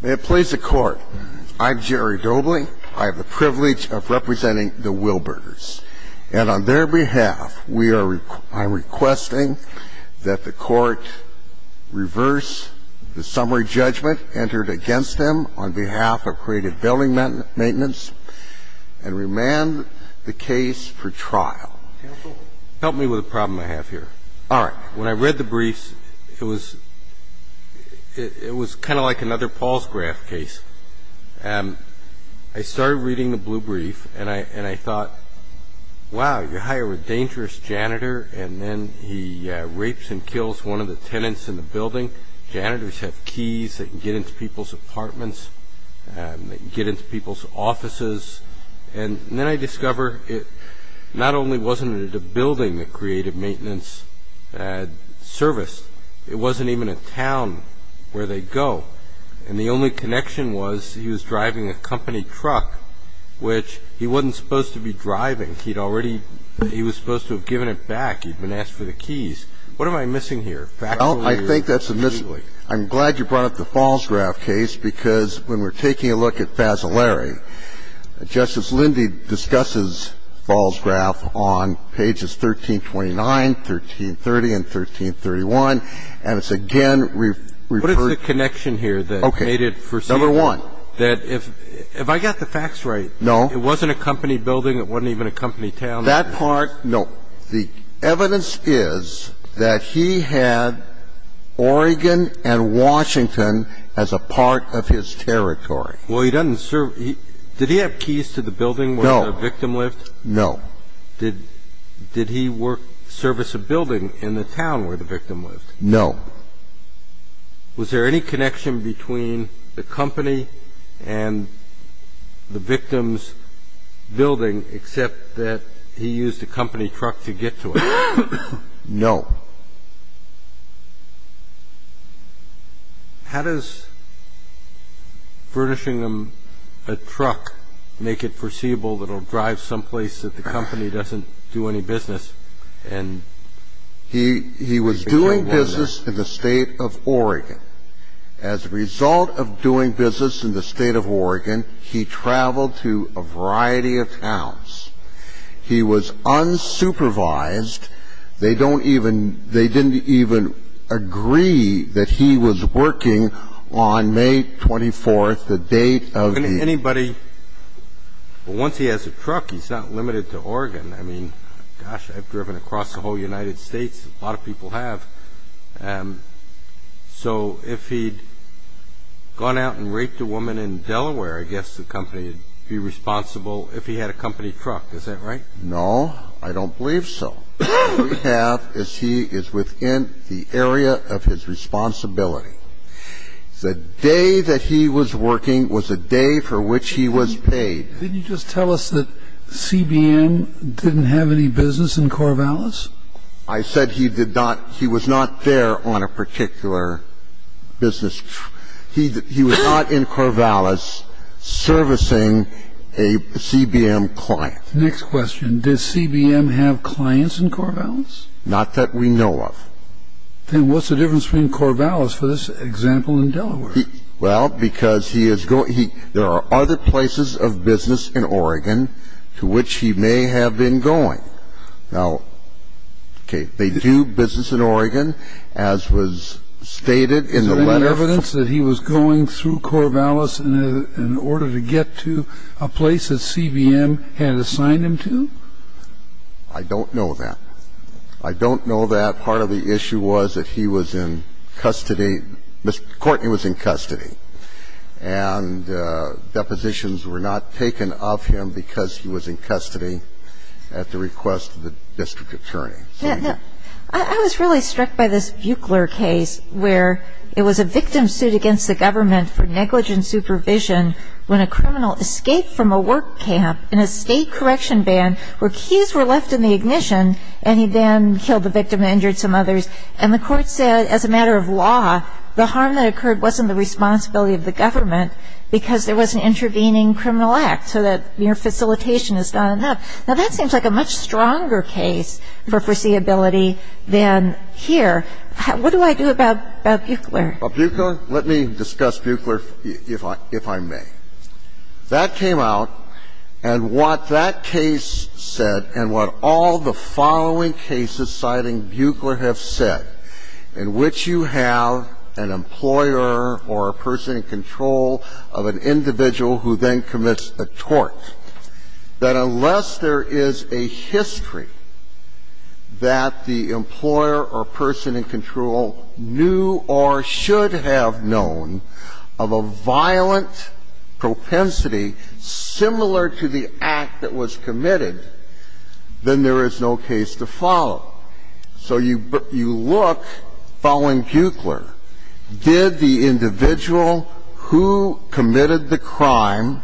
May it please the Court, I'm Jerry Doebling. I have the privilege of representing the Wilbergers. And on their behalf, I'm requesting that the Court reverse the summary judgment entered against them on behalf of Creative Building Maintenance and remand the case for trial. Help me with a problem I have here. All right. When I read the briefs, it was it was kind of like another Paul's graph case. And I started reading the blue brief and I and I thought, wow, you hire a dangerous janitor and then he rapes and kills one of the tenants in the building. Janitors have keys that get into people's apartments and get into people's offices. And then I discover it not only wasn't it a building that Creative Maintenance had serviced, it wasn't even a town where they go. And the only connection was he was driving a company truck, which he wasn't supposed to be driving. He'd already he was supposed to have given it back. He'd been asked for the keys. What am I missing here? Well, I think that's a mistake. I'm glad you brought up the Paul's graph case because when we're taking a look at Fasolari, Justice Lindy discusses Paul's graph on pages 1329, 1330 and 1331, and it's again referred What is the connection here that made it foreseeable? Number one. That if I got the facts right, it wasn't a company building, it wasn't even a company town. That part, no. The evidence is that he had Oregon and Washington as a part of his territory. Well, he doesn't serve. Did he have keys to the building where the victim lived? No. Did he work service a building in the town where the victim lived? No. Was there any connection between the company and the victim's building, except that he used a company truck to get to it? No. How does furnishing him a truck make it foreseeable that he'll drive someplace that the company doesn't do any business? He was doing business in the State of Oregon. As a result of doing business in the State of Oregon, he traveled to a variety of towns. He was unsupervised. They don't even they didn't even agree that he was working on May 24th, the date of the Anybody, once he has a truck, he's not limited to Oregon. I mean, gosh, I've driven across the whole United States. A lot of people have. So if he'd gone out and raped a woman in Delaware, I guess the company would be responsible if he had a company truck. Is that right? No, I don't believe so. What we have is he is within the area of his responsibility. The day that he was working was a day for which he was paid. Didn't you just tell us that C.B.M. didn't have any business in Corvallis? I said he did not he was not there on a particular business. He was not in Corvallis servicing a C.B.M. client. Next question. Does C.B.M. have clients in Corvallis? Not that we know of. Then what's the difference between Corvallis for this example in Delaware? Well, because there are other places of business in Oregon to which he may have been going. Now, okay, they do business in Oregon, as was stated in the letter. Is there any evidence that he was going through Corvallis in order to get to a place that C.B.M. had assigned him to? I don't know that. I don't know that. I think that part of the issue was that he was in custody. Mr. Courtney was in custody. And depositions were not taken of him because he was in custody at the request of the district attorney. I was really struck by this Buchler case where it was a victim suit against the government for negligent supervision when a criminal escaped from a work camp in a state correction band where keys were left in the ignition and he then killed the victim and injured some others, and the Court said as a matter of law the harm that occurred wasn't the responsibility of the government because there was an intervening criminal act, so that your facilitation is not enough. Now, that seems like a much stronger case for foreseeability than here. What do I do about Buchler? Well, Buchler, let me discuss Buchler, if I may. That came out, and what that case said and what all the following cases citing Buchler have said, in which you have an employer or a person in control of an individual who then commits a tort, that unless there is a history that the employer or person in control knew or should have known of a violent propensity similar to the act that was committed, then there is no case to follow. So you look, following Buchler, did the individual who committed the crime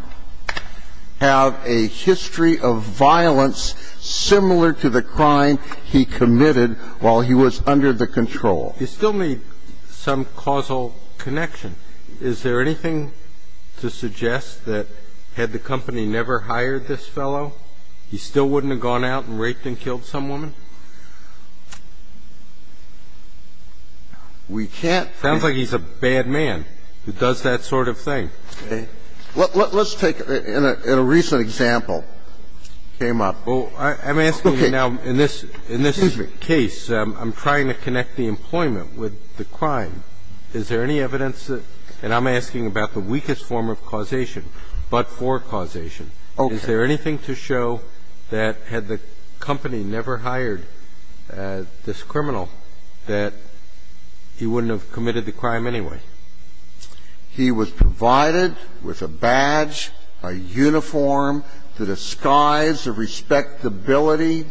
have a history of violence similar to the crime he committed while he was under the control? You still need some causal connection. Is there anything to suggest that had the company never hired this fellow, he still wouldn't have gone out and raped and killed some woman? We can't say. Sounds like he's a bad man who does that sort of thing. Let's take, in a recent example, came up. I'm asking now, in this case, I'm trying to connect the employment with the crime. Is there any evidence that, and I'm asking about the weakest form of causation, but for causation. Is there anything to show that had the company never hired this criminal that he wouldn't have committed the crime anyway? He was provided with a badge, a uniform, the disguise, the respectability,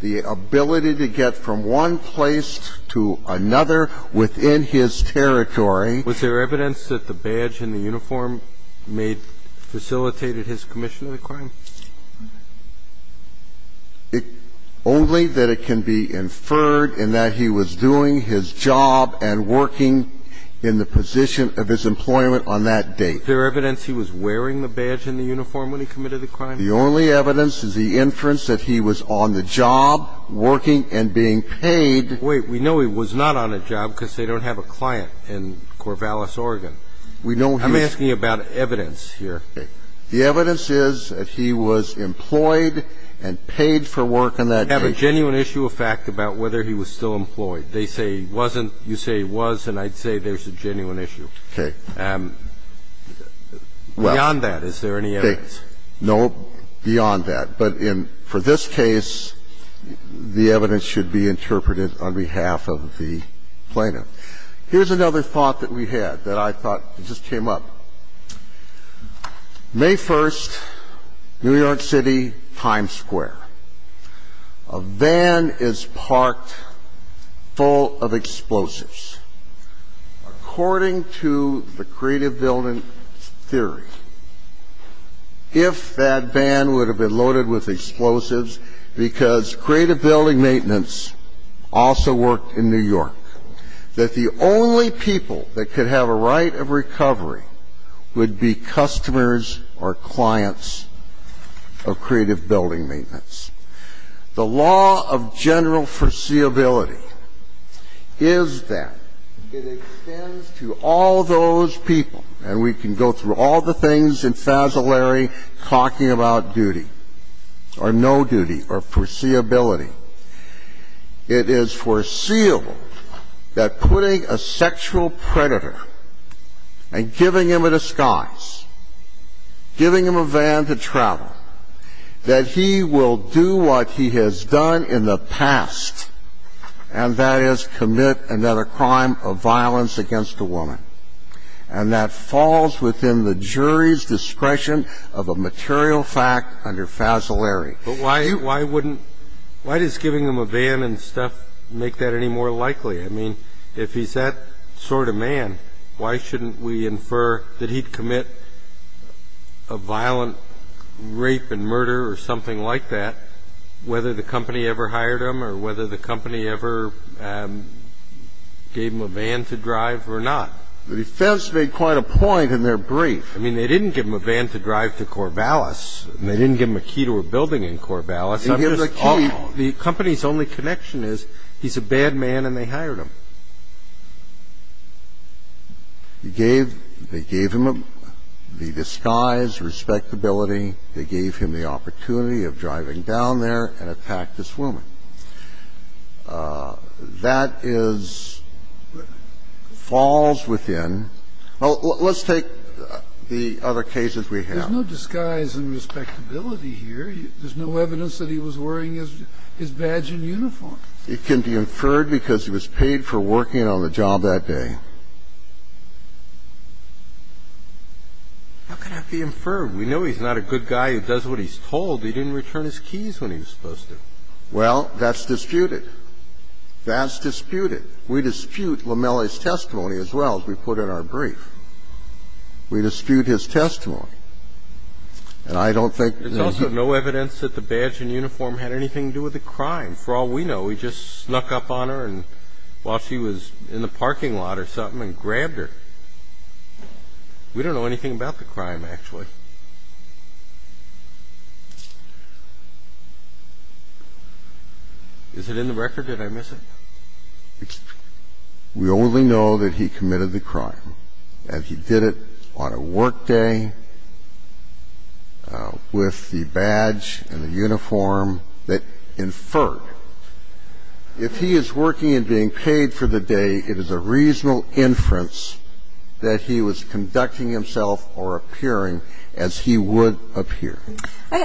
the ability to get from one place to another within his territory. Was there evidence that the badge and the uniform may have facilitated his commission of the crime? Only that it can be inferred in that he was doing his job and working in the prison at the time of the crime. No. The only evidence is the position of his employment on that date. Is there evidence he was wearing the badge and the uniform when he committed the crime? The only evidence is the inference that he was on the job, working and being paid. Wait. We know he was not on a job because they don't have a client in Corvallis, Oregon. I'm asking about evidence here. Okay. The evidence is that he was employed and paid for work on that date. Do you have a genuine issue of fact about whether he was still employed? They say he wasn't. You say he was, and I'd say there's a genuine issue. Okay. Beyond that, is there any evidence? Okay. No, beyond that. But in this case, the evidence should be interpreted on behalf of the plaintiff. Here's another thought that we had that I thought just came up. May 1st, New York City, Times Square. A van is parked full of explosives. According to the creative building theory, if that van would have been loaded with explosives because creative building maintenance also worked in New York, that the only people that could have a right of recovery would be customers or clients of creative building maintenance. The law of general foreseeability is that it extends to all those people, and we can go through all the things in Fasolari talking about duty or no duty or foreseeability. It is foreseeable that putting a sexual predator and giving him a disguise, giving him a van to travel, that he will do what he has done in the past, and that is commit another crime of violence against a woman. And that falls within the jury's discretion of a material fact under Fasolari. But why does giving him a van and stuff make that any more likely? I mean, if he's that sort of man, why shouldn't we infer that he'd commit a violent rape and murder or something like that, whether the company ever hired him or whether the company ever gave him a van to drive or not? The defense made quite a point in their brief. I mean, they didn't give him a van to drive to Corvallis, and they didn't give him a key to a building in Corvallis. They gave him the key. The company's only connection is he's a bad man and they hired him. They gave him the disguise, respectability. They gave him the opportunity of driving down there and attack this woman. That is, falls within. Let's take the other cases we have. There's no disguise and respectability here. There's no evidence that he was wearing his badge and uniform. It can be inferred because he was paid for working on the job that day. How can that be inferred? We know he's not a good guy. He does what he's told. He didn't return his keys when he was supposed to. Well, that's disputed. That's disputed. We dispute Lamelli's testimony as well, as we put in our brief. We dispute his testimony. And I don't think that he was. There's also no evidence that the badge and uniform had anything to do with the crime. For all we know, he just snuck up on her while she was in the parking lot or something and grabbed her. We don't know anything about the crime, actually. Is it in the record? Did I miss it? We only know that he committed the crime, and he did it on a work day with the badge and the uniform that inferred. If he is working and being paid for the day, it is a reasonable inference that he was a good guy and that he was a good person. We don't know anything about the evidence that he was a good person as he would appear.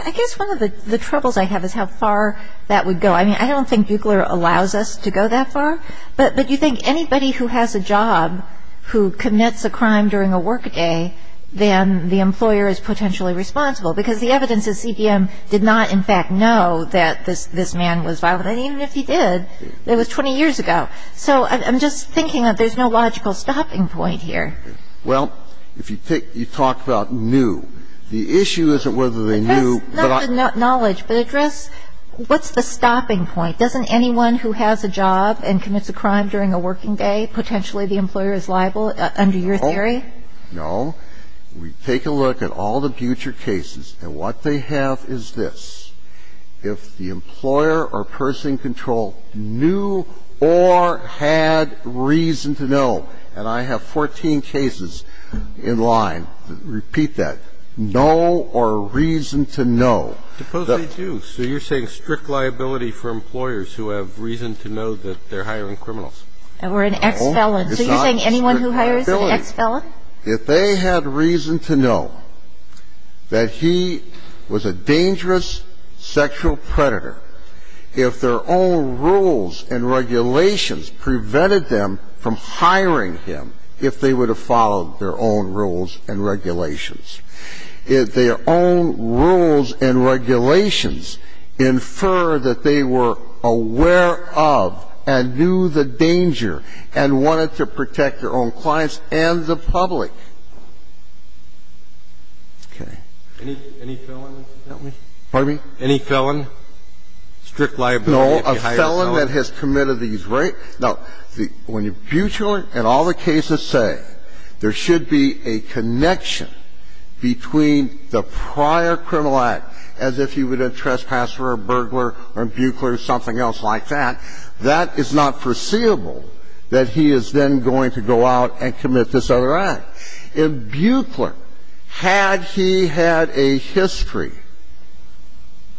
I guess one of the troubles I have is how far that would go. I mean, I don't think Buchler allows us to go that far, but you think anybody who has a job who commits a crime during a work day, then the employer is potentially We have no evidence that the employee is actually responsible because the evidence is CBM did not in fact know that this man was violent. And even if he did, it was 20 years ago. So I'm just thinking that there's no logical stopping point here. Well, if you take ñ you talked about new. The issue is whether they knew. But I ñ That's not the knowledge, but what's the stopping point? Doesn't anyone who has a job and commits a crime during a working day, potentially the employer is liable under your theory? No. We take a look at all the future cases, and what they have is this. If the employer or person in control knew or had reason to know, and I have 14 cases in line that repeat that, know or reason to know. I suppose they do. So you're saying strict liability for employers who have reason to know that they're hiring criminals. Or an ex-felon. So you're saying anyone who hires an ex-felon? If they had reason to know that he was a dangerous sexual predator, if their own rules and regulations prevented them from hiring him, if they would have followed their own rules and regulations. If their own rules and regulations infer that they were aware of and knew the danger and wanted to protect their own clients and the public. Okay. Any felon, incidentally? Pardon me? Any felon? Strict liability if you hire a felon? A felon that has committed these rapes. Now, when Buechler and all the cases say there should be a connection between the prior criminal act, as if he were a trespasser or a burglar or Buechler or something else like that, that is not foreseeable that he is then going to go out and commit this other act. If Buechler, had he had a history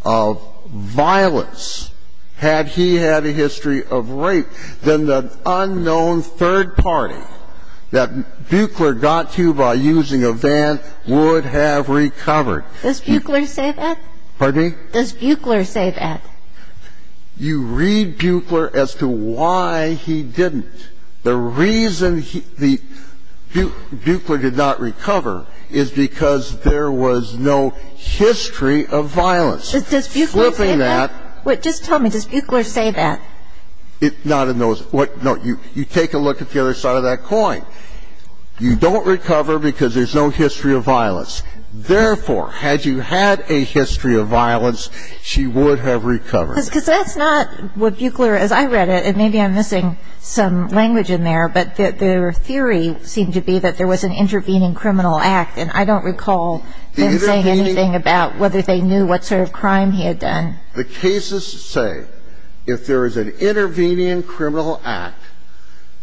of violence, had he had a history of rape, that would have been the unknown third party that Buechler got to by using a van would have recovered. Does Buechler say that? Pardon me? Does Buechler say that? You read Buechler as to why he didn't. The reason Buechler did not recover is because there was no history of violence. Does Buechler say that? Flipping that. Just tell me, does Buechler say that? Not in those. No. You take a look at the other side of that coin. You don't recover because there's no history of violence. Therefore, had you had a history of violence, she would have recovered. Because that's not what Buechler is. I read it, and maybe I'm missing some language in there, but their theory seemed to be that there was an intervening criminal act, and I don't recall them saying anything about whether they knew what sort of crime he had done. The cases say, if there is an intervening criminal act,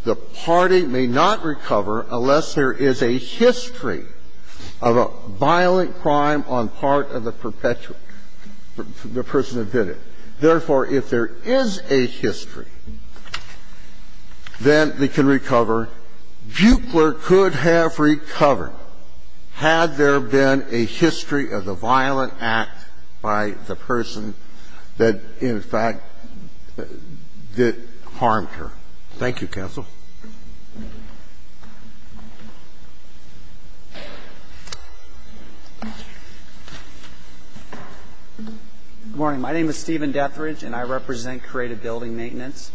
the party may not recover unless there is a history of a violent crime on part of the perpetrator, the person who did it. Therefore, if there is a history, then they can recover. Buechler could have recovered had there been a history of the violent act by the person that, in fact, that harmed her. Thank you, counsel. Good morning. My name is Stephen Dethridge, and I represent Creative Building Maintenance.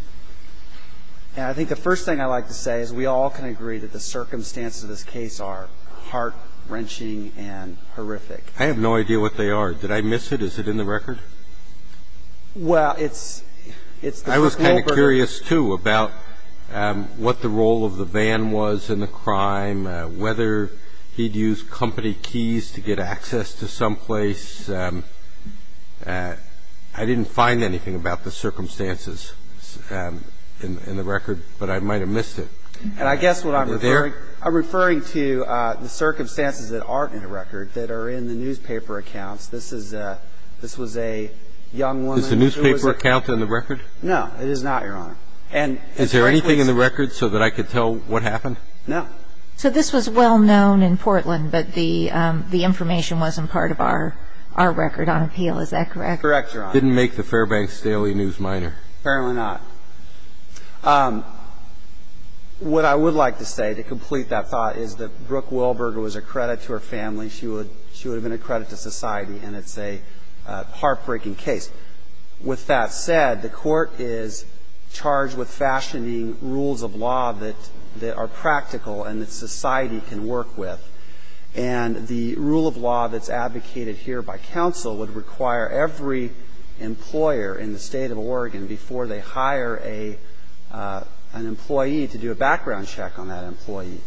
And I think the first thing I'd like to say is we all can agree that the circumstances of this case are heart-wrenching and horrific. I have no idea what they are. Did I miss it? Is it in the record? Well, it's the folder. I was kind of curious, too, about what the role of the van was in the crime, whether he'd used company keys to get access to someplace. I didn't find anything about the circumstances in the record, but I might have missed it. And I guess what I'm referring to, I'm referring to the circumstances that aren't in the record, that are in the newspaper accounts. This was a young woman. Is the newspaper account in the record? No, it is not, Your Honor. Is there anything in the record so that I could tell what happened? No. So this was well-known in Portland, but the information wasn't part of our record on appeal. Is that correct? Correct, Your Honor. Didn't make the Fairbanks Daily News Minor. Apparently not. What I would like to say to complete that thought is that Brooke Wilberger was a credit to her family. She would have been a credit to society, and it's a heartbreaking case. With that said, the Court is charged with fashioning rules of law that are practical and that society can work with, and the rule of law that's advocated here by counsel would require every employer in the State of Oregon, before they hire an employee, to do a background check on that employee.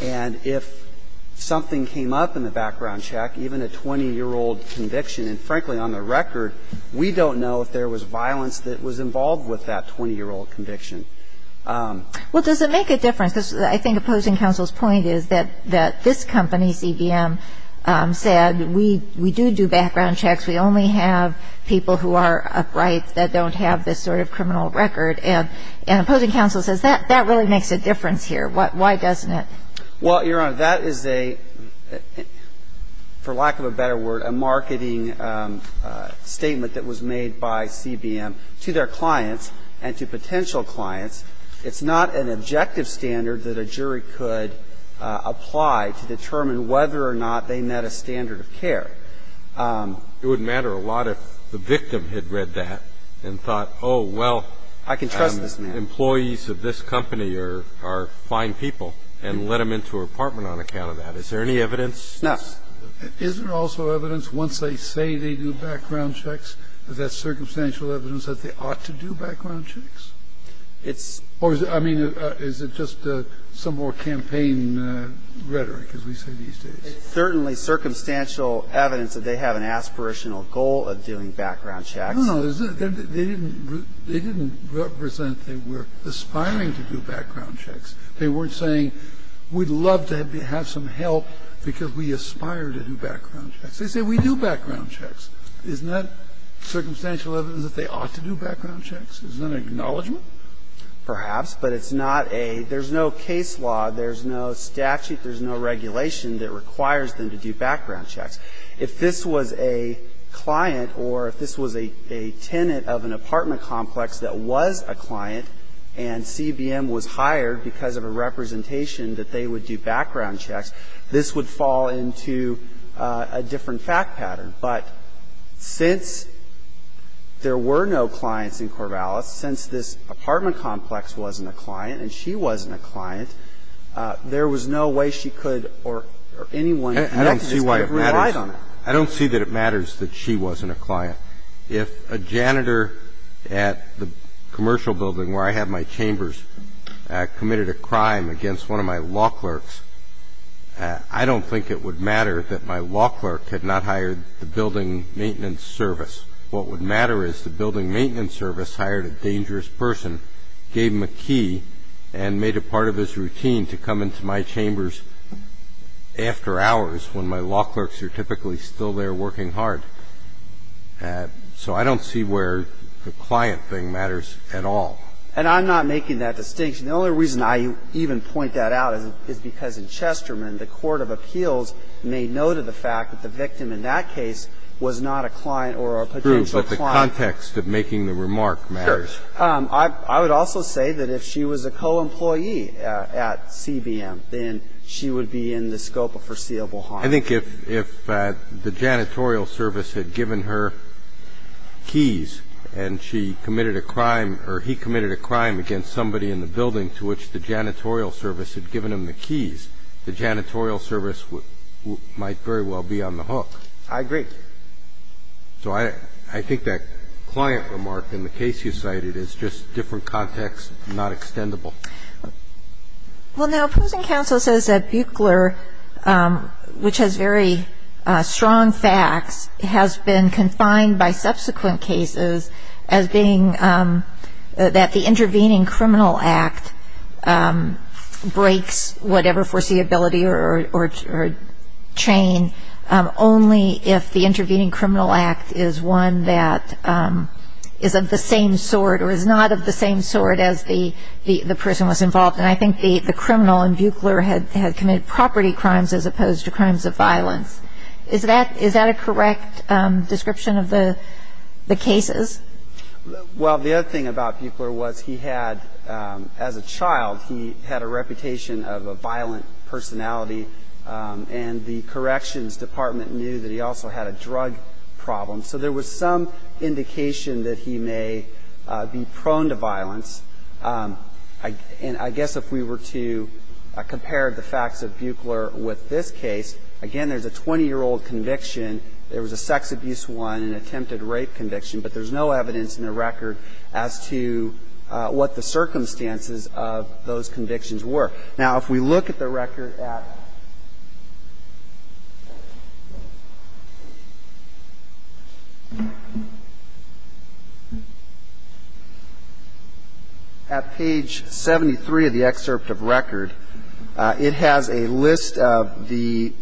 And if something came up in the background check, even a 20-year-old conviction and, frankly, on the record, we don't know if there was violence that was involved with that 20-year-old conviction. Well, does it make a difference? Because I think opposing counsel's point is that this company, CBM, said we do do background checks, we only have people who are upright that don't have this sort of criminal record. And opposing counsel says that really makes a difference here. Why doesn't it? Well, Your Honor, that is a, for lack of a better word, a marketing statement that was made by CBM to their clients and to potential clients. It's not an objective standard that a jury could apply to determine whether or not they met a standard of care. It would matter a lot if the victim had read that and thought, oh, well, employees of this company are fine people, and let them into an apartment on account of that. Is there any evidence? No. Is there also evidence once they say they do background checks, is that circumstantial evidence that they ought to do background checks? It's or is it, I mean, is it just some more campaign rhetoric, as we say these days? It's certainly circumstantial evidence that they have an aspirational goal of doing background checks. I don't know. They didn't represent they were aspiring to do background checks. They weren't saying we'd love to have some help because we aspire to do background checks. They say we do background checks. Isn't that circumstantial evidence that they ought to do background checks? Isn't that an acknowledgment? Perhaps, but it's not a – there's no case law, there's no statute, there's no regulation that requires them to do background checks. If this was a client or if this was a tenant of an apartment complex that was a client and CBM was hired because of a representation that they would do background checks, this would fall into a different fact pattern. But since there were no clients in Corvallis, since this apartment complex wasn't a client and she wasn't a client, there was no way she could or anyone could have relied on it. I don't see that it matters that she wasn't a client. If a janitor at the commercial building where I have my chambers committed a crime against one of my law clerks, I don't think it would matter that my law clerk had not hired the building maintenance service. What would matter is the building maintenance service hired a dangerous person, gave him a key, and made it part of his routine to come into my chambers after hours when my law clerks are typically still there working hard. So I don't see where the client thing matters at all. And I'm not making that distinction. The only reason I even point that out is because in Chesterman, the court of appeals made note of the fact that the victim in that case was not a client or a potential client. But the context of making the remark matters. Sure. I would also say that if she was a co-employee at CBM, then she would be in the scope of a foreseeable harm. I think if the janitorial service had given her keys and she committed a crime or he committed a crime against somebody in the building to which the janitorial service had given him the keys, the janitorial service might very well be on the hook. I agree. So I think that client remark in the case you cited is just different context, not extendable. Well, now, opposing counsel says that Buchler, which has very strong facts, has been confined by subsequent cases as being that the intervening criminal act breaks whatever foreseeability or chain only if the intervening criminal act is one that is of the same sort or is not of the same sort as the person who was involved. And I think the criminal in Buchler had committed property crimes as opposed to crimes of violence. Is that a correct description of the cases? Well, the other thing about Buchler was he had, as a child, he had a reputation of a violent personality and the corrections department knew that he also had a drug problem. So there was some indication that he may be prone to violence. I guess if we were to compare the facts of Buchler with this case, again, there's a 20-year-old conviction. There was a sex abuse one, an attempted rape conviction, but there's no evidence in the record as to what the circumstances of those convictions were. Now, if we look at the record at page 73 of the excerpt of record, it has a list of the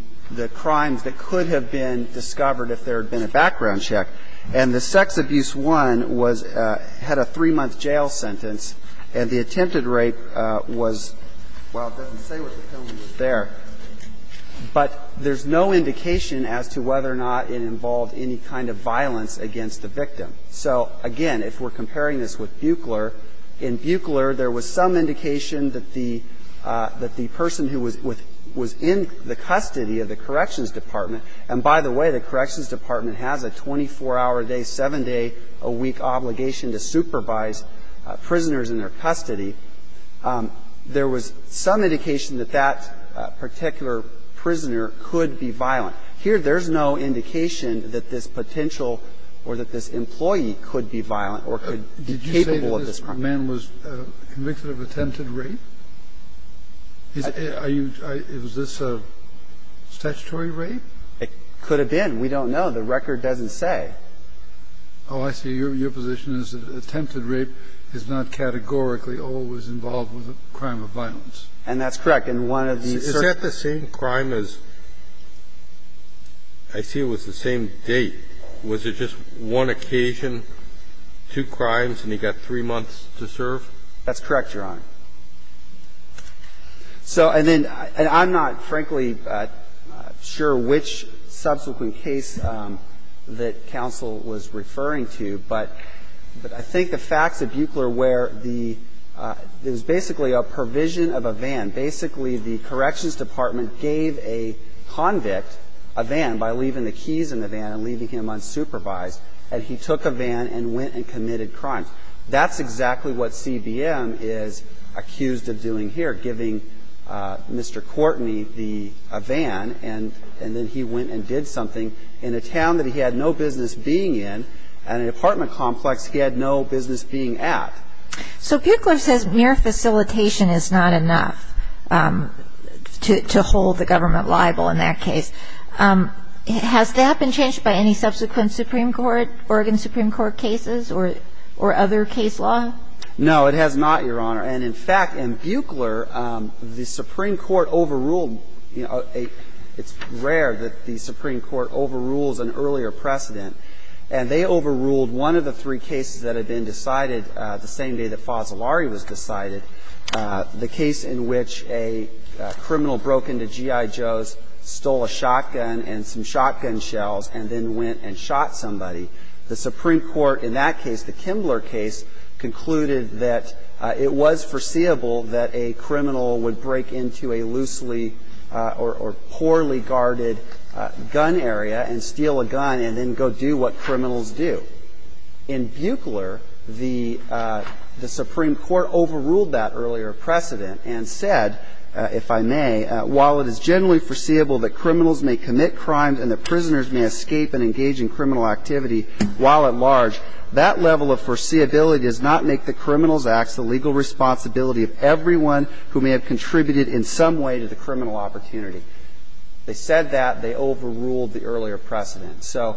crimes that could have been discovered if there had been a background check, and the sex abuse one was at a three-month jail sentence, and the attempted Well, it doesn't say what the felony was there, but there's no indication as to whether or not it involved any kind of violence against the victim. So, again, if we're comparing this with Buchler, in Buchler there was some indication that the person who was in the custody of the corrections department, and by the way, the corrections department has a 24-hour-a-day, 7-day-a-week obligation to supervise prisoners in their custody. There was some indication that that particular prisoner could be violent. Here, there's no indication that this potential or that this employee could be violent or could be capable of this crime. Did you say that this man was convicted of attempted rape? Are you – is this a statutory rape? It could have been. We don't know. The record doesn't say. Oh, I see. Your position is that attempted rape is not categorically always involved with a crime of violence. And that's correct. And one of the certain – Is that the same crime as – I see it was the same date. Was it just one occasion, two crimes, and he got three months to serve? That's correct, Your Honor. So, and then – and I'm not, frankly, sure which subsequent case that counsel was referring to, but I think the facts at Buechler were the – it was basically a provision of a van. Basically, the corrections department gave a convict a van by leaving the keys in the van and leaving him unsupervised, and he took a van and went and committed crimes. That's exactly what CBM is accused of doing here, giving Mr. Courtney the van, and then he went and did something in a town that he had no business being in and an apartment complex he had no business being at. So Buechler says mere facilitation is not enough to hold the government liable in that case. Has that been changed by any subsequent Supreme Court, Oregon Supreme Court cases or other case law? No, it has not, Your Honor. And, in fact, in Buechler, the Supreme Court overruled a – it's rare that the Supreme Court overrules an earlier precedent. And they overruled one of the three cases that had been decided the same day that Fazzolari was decided, the case in which a criminal broke into GI Joe's, stole a shotgun and some shotgun shells, and then went and shot somebody. The Supreme Court in that case, the Kimbler case, concluded that it was foreseeable that a criminal would break into a loosely or poorly guarded gun area and steal a gun and then go do what criminals do. In Buechler, the Supreme Court overruled that earlier precedent and said, if I may, while it is generally foreseeable that criminals may commit crimes and that prisoners may escape and engage in criminal activity while at large, that level of foreseeability does not make the Criminals Acts the legal responsibility of everyone who may have contributed in some way to the criminal opportunity. They said that. They overruled the earlier precedent. So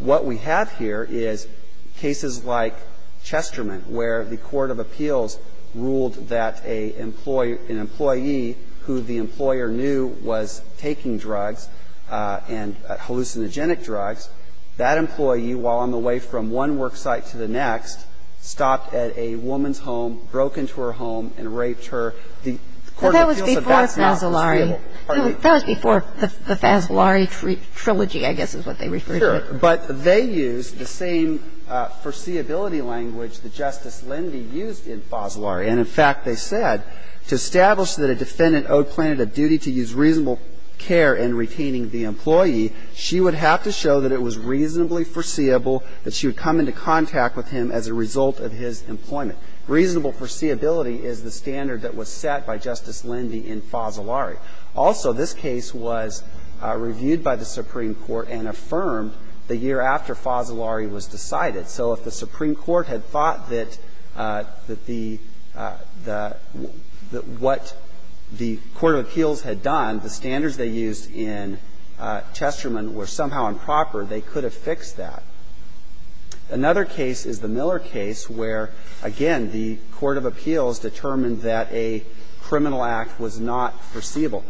what we have here is cases like Chesterman, where the court of appeals ruled that an employee who the employer knew was taking drugs and hallucinogenic drugs, that employee, while on the way from one work site to the next, stopped at a woman's home, broke into her home, and raped her. The court of appeals advanced that. Kagan. But that was before Fazzolari. That was before the Fazzolari trilogy, I guess, is what they referred to. Sure. But they used the same foreseeability language that Justice Lindy used in Fazzolari. And, in fact, they said, to establish that a defendant owed plaintiff a duty to use reasonable care in retaining the employee, she would have to show that it was reasonably foreseeable that she would come into contact with him as a result of his employment. Reasonable foreseeability is the standard that was set by Justice Lindy in Fazzolari. Also, this case was reviewed by the Supreme Court and affirmed the year after Fazzolari was decided. So if the Supreme Court had thought that the – that what the court of appeals had done, the standards they used in Chesterman, were somehow improper, they could have fixed that. Another case is the Miller case, where, again, the court of appeals determined that a criminal act was not foreseeable.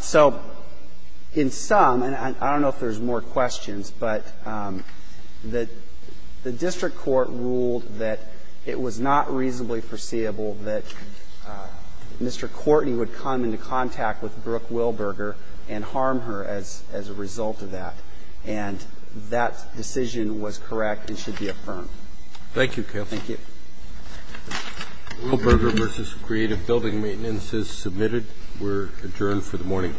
So in some, and I don't know if there's more questions, but the district court ruled that it was not reasonably foreseeable that Mr. Courtney would come into contact with Brooke Wilberger and harm her as a result of that. And that decision was correct and should be affirmed. Thank you, Kev. Thank you. Wilberger v. Creative Building Maintenance is submitted. We're adjourned for the morning.